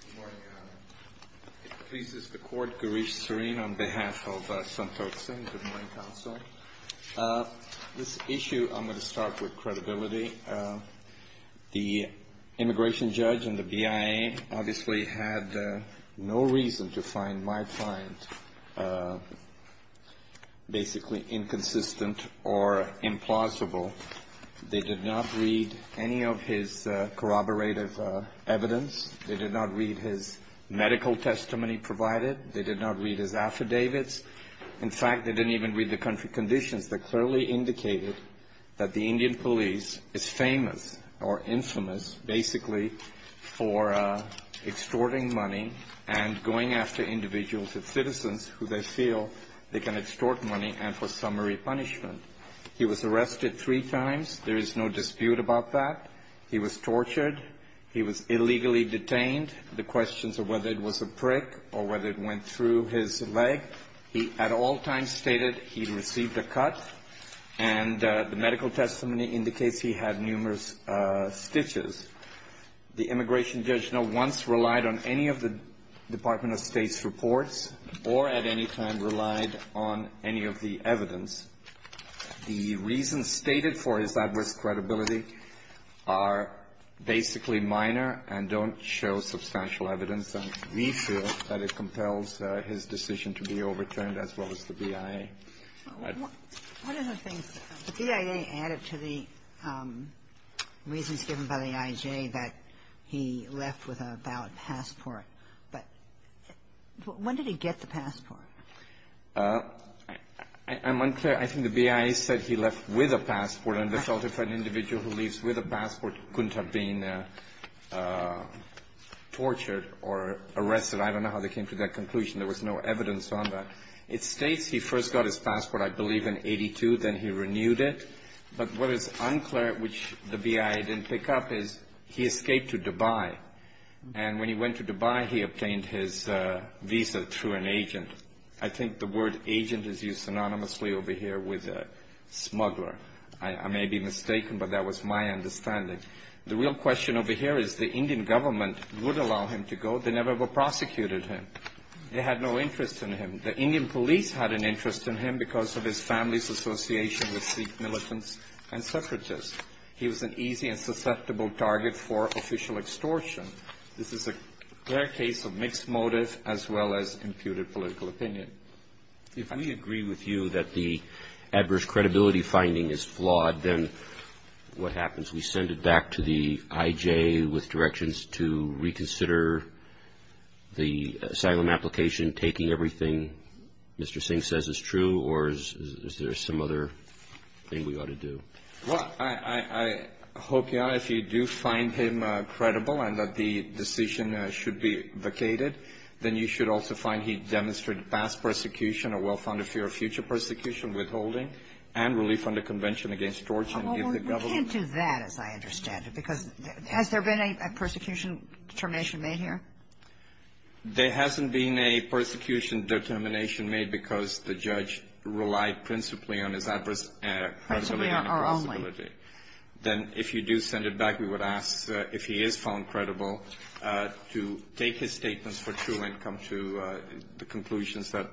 Good morning, Your Honor. It pleases the Court, Girish Srin, on behalf of Santokh Singh, the Marine Counsel. This issue, I'm going to start with credibility. The immigration judge and the BIA obviously had no reason to find my client basically inconsistent or implausible. They did not read any of his corroborative evidence. They did not read his medical testimony provided. They did not read his affidavits. In fact, they didn't even read the country conditions that clearly indicated that the Indian police is famous or infamous basically for extorting money and going after individuals and citizens who they feel they can extort money and for summary punishment. He was arrested three times. There is no dispute about that. He was tortured. He was illegally detained. The questions of whether it was a prick or whether it went through his leg, he at all times stated he received a cut. And the medical testimony indicates he had numerous stitches. The immigration judge no once relied on any of the Department of State's reports or at any time relied on any of the evidence. The reason stated for his adverse credibility are basically minor and don't show substantial evidence, and we feel that it compels his decision to be overturned as well as the BIA. Ginsburg. One of the things, the BIA added to the reasons given by the IJ that he left with a valid passport, but when did he get the passport? I'm unclear. I think the BIA said he left with a passport, and they felt if an individual who leaves with a passport couldn't have been tortured or arrested. I don't know how they came to that conclusion. There was no evidence on that. It states he first got his passport, I believe, in 82, then he renewed it. But what is unclear, which the BIA didn't pick up, is he escaped to Dubai. And when he went to Dubai, I think the word agent is used synonymously over here with smuggler. I may be mistaken, but that was my understanding. The real question over here is the Indian government would allow him to go. They never prosecuted him. They had no interest in him. The Indian police had an interest in him because of his family's association with Sikh militants and suffragists. He was an easy and susceptible target for official extortion. This is a clear case of mixed motive as well as imputed political opinion. If we agree with you that the adverse credibility finding is flawed, then what happens? We send it back to the IJ with directions to reconsider the asylum application, taking everything Mr. Singh says is true, or is there some other thing we ought to do? Well, I hope, Your Honor, if you do find him credible and that the decision should be vacated, then you should also find he demonstrated past persecution, a well-founded fear of future persecution, withholding, and relief under Convention Against Torture. Oh, we can't do that, as I understand it, because has there been a persecution determination made here? There hasn't been a persecution determination made because the judge relied principally on his adverse credibility. There are only. Then if you do send it back, we would ask if he is found credible to take his statements for true and come to the conclusions that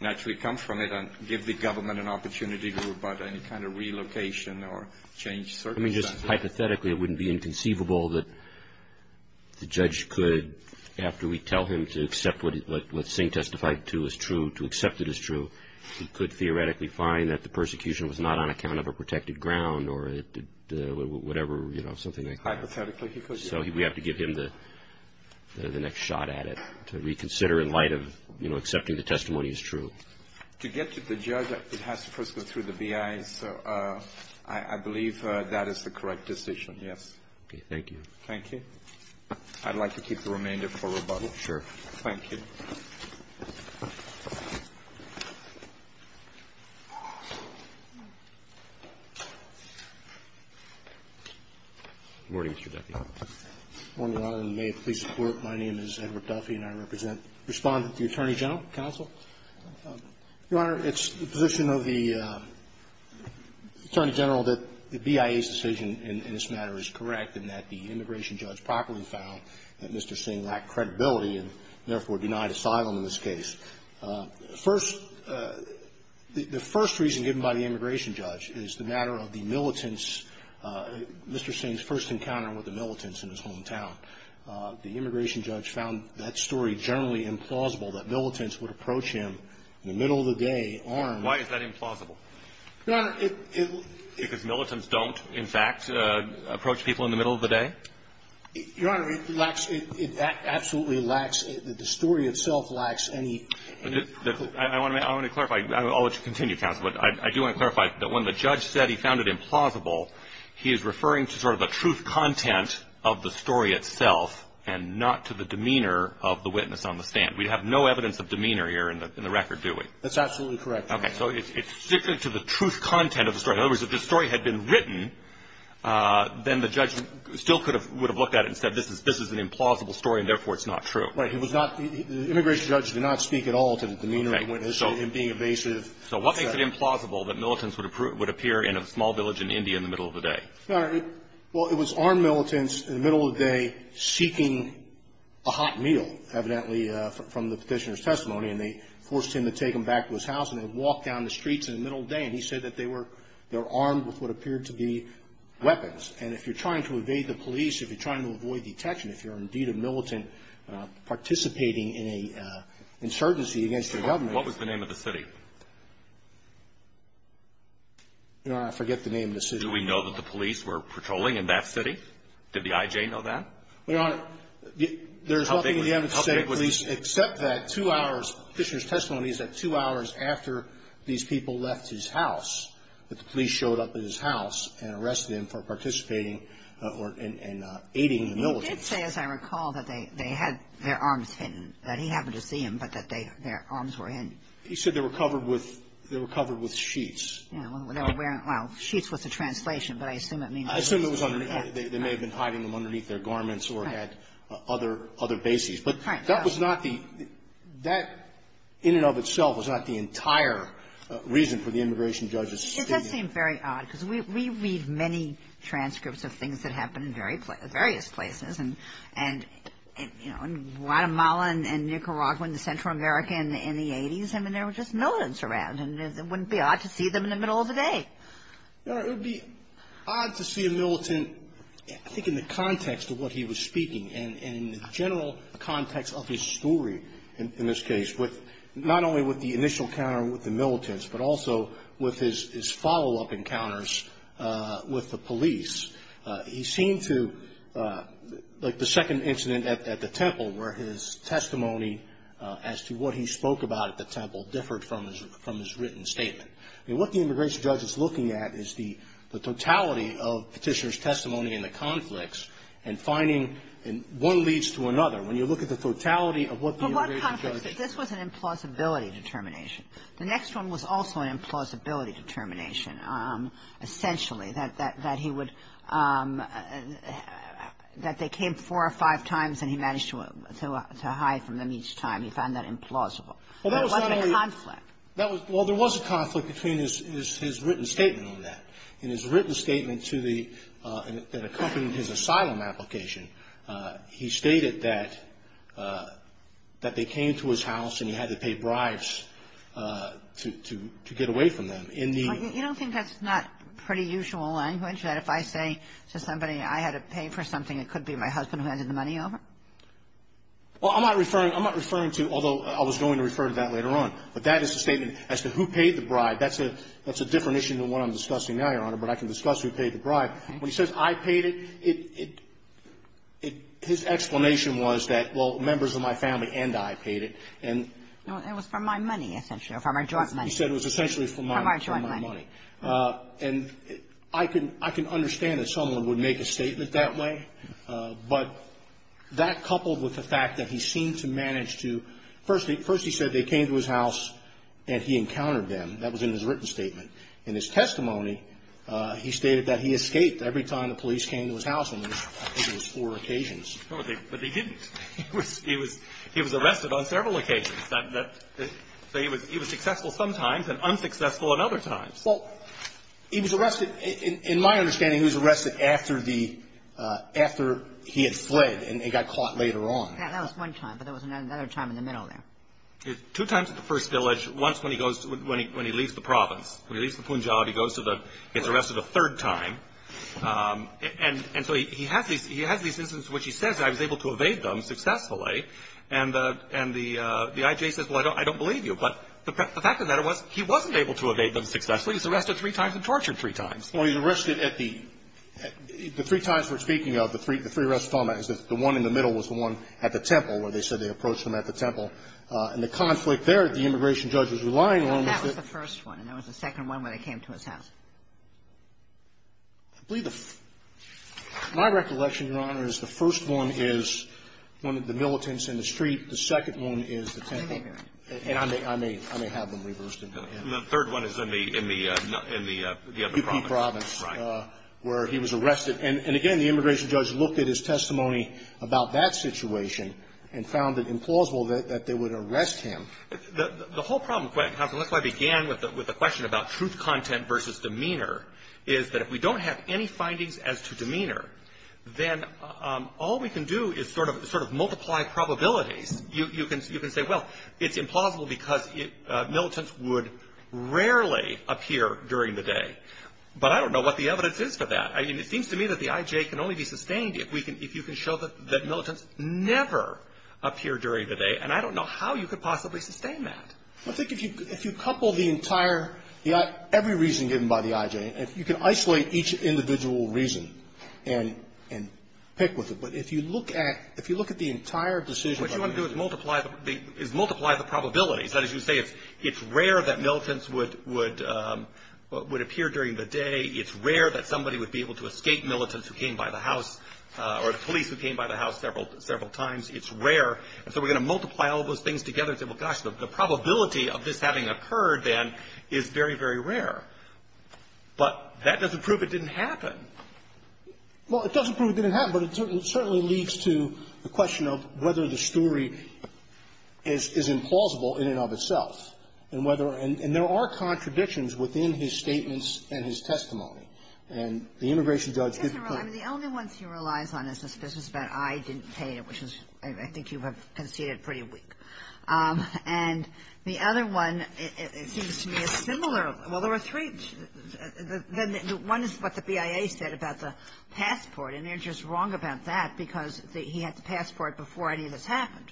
naturally come from it and give the government an opportunity to rebut any kind of relocation or change circumstances. I mean, just hypothetically, it wouldn't be inconceivable that the judge could, after we tell him to accept what Singh testified to as true, to accept it as true, so he could theoretically find that the persecution was not on account of a protected ground or whatever, you know, something like that. Hypothetically, he could. So we have to give him the next shot at it to reconsider in light of, you know, accepting the testimony as true. To get to the judge, it has to first go through the B.I. So I believe that is the correct decision, yes. Okay, thank you. Thank you. I'd like to keep the remainder for rebuttal. Sure. Thank you. Good morning, Mr. Deputy Attorney General. Good morning, Your Honor, and may it please the Court, my name is Edward Duffy and I represent the Respondent to the Attorney General Counsel. Your Honor, it's the position of the Attorney General that the BIA's decision in this matter is correct and that the immigration judge properly found that Mr. Singh lacked credibility and therefore denied asylum in this case. First, the first reason given by the immigration judge is the matter of the militants Mr. Singh's first encounter with the militants in his hometown. The immigration judge found that story generally implausible, that militants would approach him in the middle of the day armed. Why is that implausible? Your Honor, it was. Because militants don't, in fact, approach people in the middle of the day? Your Honor, it lacks, it absolutely lacks, the story itself lacks any. I want to clarify. I'll let you continue, counsel, but I do want to clarify that when the judge said he found it implausible, he is referring to sort of the truth content of the story itself and not to the demeanor of the witness on the stand. We have no evidence of demeanor here in the record, do we? That's absolutely correct, Your Honor. Okay. So it's sticking to the truth content of the story. In other words, if the story had been written, then the judge still could have, would have looked at it and said this is an implausible story and, therefore, it's not true. Right. It was not, the immigration judge did not speak at all to the demeanor of the witness in being evasive. So what makes it implausible that militants would appear in a small village in India in the middle of the day? Your Honor, well, it was armed militants in the middle of the day seeking a hot meal, evidently, from the petitioner's testimony, and they forced him to take them back to his house, and they walked down the streets in the middle of the day, and he said that they were armed with what appeared to be weapons. And if you're trying to evade the police, if you're trying to avoid detection, if you're indeed a militant participating in an insurgency against the government What was the name of the city? Your Honor, I forget the name of the city. Do we know that the police were patrolling in that city? Did the I.J. know that? Your Honor, there's nothing in the evidence to say, please, except that two hours, the petitioner's testimony is that two hours after these people left his house that the police showed up at his house and arrested him for participating or in aiding the militants. He did say, as I recall, that they had their arms hidden, that he happened to see them, but that their arms were hidden. He said they were covered with sheets. Yeah. Well, they were wearing, well, sheets was the translation, but I assume it means I assume it was underneath. They may have been hiding them underneath their garments or had other bases. Right. But that was not the, that in and of itself was not the entire reason for the immigration judge's statement. It does seem very odd, because we read many transcripts of things that happened in various places, and, you know, in Guatemala and Nicaragua and Central America in the 80s, I mean, there were just militants around, and it wouldn't be odd to see them in the middle of the day. Your Honor, it would be odd to see a militant, I think in the context of what he was in the context of his story, in this case, with not only with the initial encounter with the militants, but also with his follow-up encounters with the police. He seemed to, like the second incident at the temple where his testimony as to what he spoke about at the temple differed from his written statement. I mean, what the immigration judge is looking at is the totality of petitioner's testimony in the conflicts and finding, and one leads to another. When you look at the totality of what the immigration judge ---- But what conflicts? This was an implausibility determination. The next one was also an implausibility determination, essentially, that he would ---- that they came four or five times, and he managed to hide from them each time. He found that implausible. There wasn't a conflict. Well, there was a conflict between his written statement on that. In his written statement to the ---- that accompanied his asylum application, he stated that they came to his house and he had to pay bribes to get away from them. In the ---- You don't think that's not pretty usual language, that if I say to somebody I had to pay for something, it could be my husband who handed the money over? Well, I'm not referring to ---- although I was going to refer to that later on. But that is the statement as to who paid the bribe. That's a different issue than what I'm discussing now, Your Honor, but I can discuss who paid the bribe. When he says I paid it, it ---- it ---- his explanation was that, well, members of my family and I paid it, and ---- No. It was for my money, essentially, or for my joint money. He said it was essentially for my money. For my joint money. And I can ---- I can understand that someone would make a statement that way, but that coupled with the fact that he seemed to manage to ---- first he said they came to his house and he encountered them. That was in his written statement. In his testimony, he stated that he escaped every time the police came to his house and there was four occasions. But they didn't. He was arrested on several occasions. So he was successful sometimes and unsuccessful at other times. Well, he was arrested ---- in my understanding, he was arrested after the ---- after he had fled and got caught later on. That was one time, but there was another time in the middle there. Two times at the first village, once when he goes to ---- when he leaves the province. When he leaves the Punjab, he goes to the ---- he's arrested a third time. And so he has these instances in which he says, I was able to evade them successfully. And the I.J. says, well, I don't believe you. But the fact of the matter was he wasn't able to evade them successfully. He was arrested three times and tortured three times. Well, he was arrested at the ---- the three times we're speaking of, the three arrests was the one at the temple where they said they approached him at the temple. And the conflict there, the immigration judge was relying on was that ---- But that was the first one. And that was the second one when he came to his house. I believe the ---- my recollection, Your Honor, is the first one is one of the militants in the street. The second one is the temple. And I may have them reversed. And the third one is in the province. In the province. Right. Where he was arrested. And again, the immigration judge looked at his testimony about that situation and found it implausible that they would arrest him. The whole problem, Counsel, and that's why I began with the question about truth content versus demeanor, is that if we don't have any findings as to demeanor, then all we can do is sort of multiply probabilities. You can say, well, it's implausible because militants would rarely appear during the day. But I don't know what the evidence is for that. I mean, it seems to me that the I.J. can only be sustained if you can show that militants never appear during the day. And I don't know how you could possibly sustain that. I think if you couple the entire ---- every reason given by the I.J. and you can isolate each individual reason and pick with it. But if you look at the entire decision ---- What you want to do is multiply the probabilities. That is, you say it's rare that militants would appear during the day. It's rare that somebody would be able to escape militants who came by the house or the police who came by the house several times. It's rare. And so we're going to multiply all those things together and say, well, gosh, the probability of this having occurred, then, is very, very rare. But that doesn't prove it didn't happen. Well, it doesn't prove it didn't happen, but it certainly leads to the question of whether the story is implausible in and of itself and whether ---- and there are And the immigration judge ---- I mean, the only ones he relies on is the suspicions that I didn't pay, which is, I think you have conceded, pretty weak. And the other one, it seems to me, is similar. Well, there were three. One is what the BIA said about the passport, and they're just wrong about that because he had the passport before any of this happened.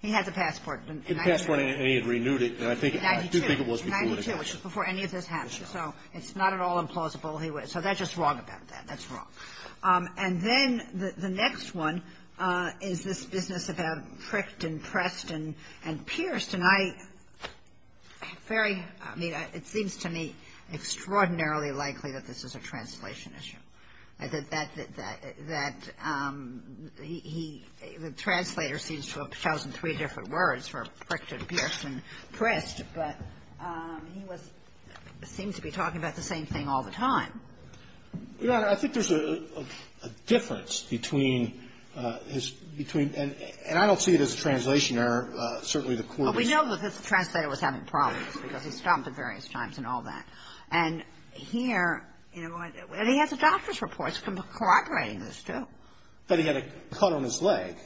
He had the passport in ---- The passport, and he had renewed it, and I think ---- In 92. In 92, which is before any of this happened. So it's not at all implausible. So they're just wrong about that. That's wrong. And then the next one is this business about Prickton, Preston, and Pierce. And I very ---- I mean, it seems to me extraordinarily likely that this is a translation issue, that he ---- the translator seems to have chosen three different words for Prickton, Pierce, and Prest. But he was ---- seems to be talking about the same thing all the time. Your Honor, I think there's a difference between his ---- between ---- and I don't see it as a translation error. Certainly, the court is ---- But we know that the translator was having problems because he stopped at various times and all that. And here, you know, he has a doctor's report corroborating this, too. But he had a cut on his leg.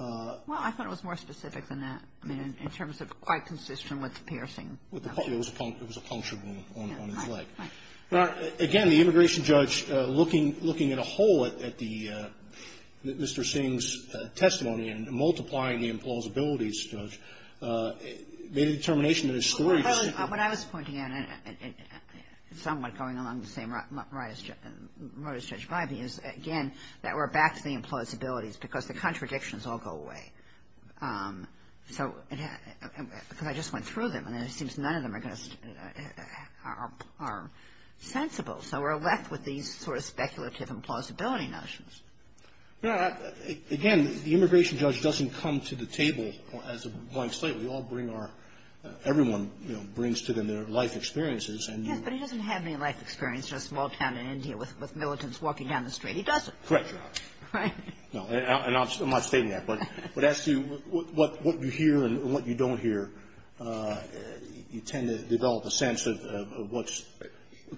Well, I thought it was more specific than that. I mean, in terms of quite consistent with piercing. It was a punctured wound on his leg. Right, right. Now, again, the immigration judge looking at a whole at the ---- Mr. Singh's testimony and multiplying the implausibilities, Judge, made a determination in his story to say ---- Well, when I was pointing out somewhat going along the same road as Judge Bybee is, again, that we're back to the implausibilities because the contradictions all go away. So ---- because I just went through them. And it seems none of them are going to ---- are sensible. So we're left with these sort of speculative implausibility notions. No. Again, the immigration judge doesn't come to the table as a blank slate. We all bring our ---- everyone, you know, brings to them their life experiences, and you ---- Yes, but he doesn't have any life experience in a small town in India with militants walking down the street. He doesn't. Correct, Your Honor. Right. No. And I'm not stating that. But as to what you hear and what you don't hear, you tend to develop a sense of what's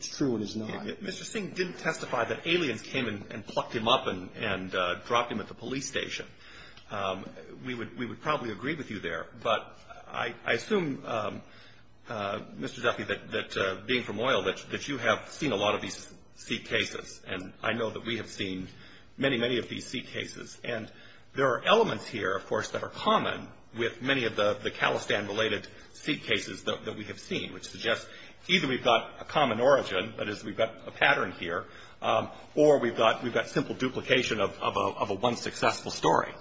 true and is not. Mr. Singh didn't testify that aliens came and plucked him up and dropped him at the police station. We would probably agree with you there. But I assume, Mr. Zaffi, that being from oil, that you have seen a lot of these C cases. And I know that we have seen many, many of these C cases. And there are elements here, of course, that are common with many of the Khalistan-related C cases that we have seen, which suggests either we've got a common origin, that is, we've got a pattern here, or we've got simple duplication of a one successful story.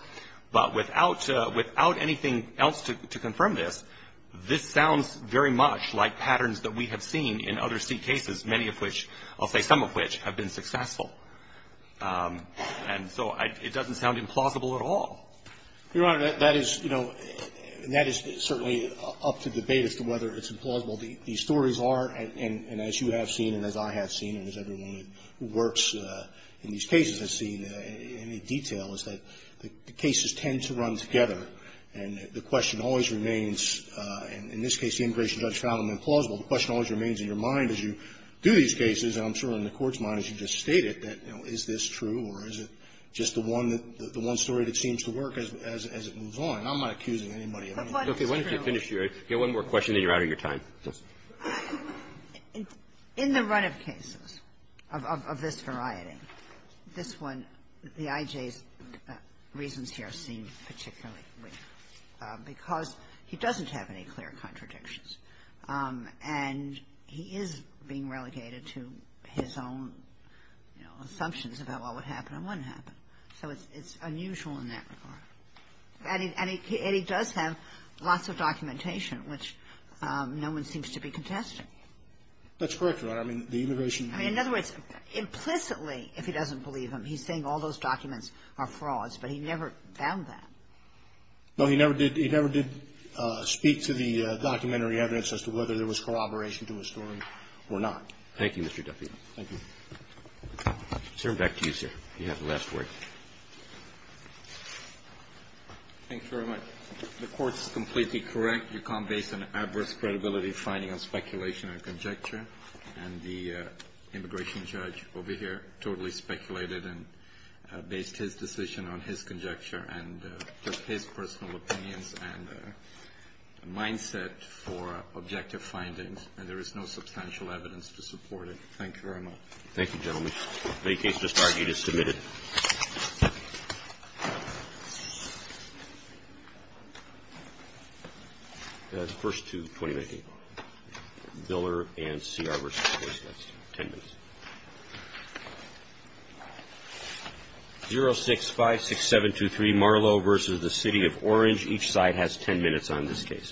But without anything else to confirm this, this sounds very much like patterns that we have seen in other C cases, many of which, I'll say some of which, have been successful. And so it doesn't sound implausible at all. Your Honor, that is, you know, and that is certainly up to debate as to whether it's implausible. These stories are, and as you have seen and as I have seen and as everyone who works in these cases has seen in detail, is that the cases tend to run together. And the question always remains, in this case, the immigration judge found them implausible. The question always remains in your mind as you do these cases, and I'm sure in the Court's mind as you just stated, that, you know, is this true or is it just the one that, the one story that seems to work as it moves on. I'm not accusing anybody of any of this. Roberts. Ginsburg. Get one more question and then you're out of your time. In the run-up cases of this variety, this one, the I.J.'s reasons here seem particularly weak because he doesn't have any clear contradictions. And he is being relegated to his own, you know, assumptions about what would happen and wouldn't happen. So it's unusual in that regard. And he does have lots of documentation, which no one seems to be contesting. That's correct, Your Honor. I mean, the immigration law. I mean, in other words, implicitly, if he doesn't believe him, he's saying all those documents are frauds. But he never found that. No, he never did. He never did speak to the documentary evidence as to whether there was corroboration to a story or not. Thank you, Mr. Duffy. Thank you. Sir, back to you, sir. You have the last word. Thanks very much. The Court's completely correct. Yukon based an adverse credibility finding on speculation and conjecture. And the immigration judge over here totally speculated and based his decision on his conjecture and his personal opinions and mindset for objective findings. And there is no substantial evidence to support it. Thank you very much. Thank you, gentlemen. Any case to start, you just submit it. First to 20 minutes. Miller and Sear versus Hoist. That's 10 minutes. 0656723, Marlowe versus the City of Orange. Each side has 10 minutes on this case.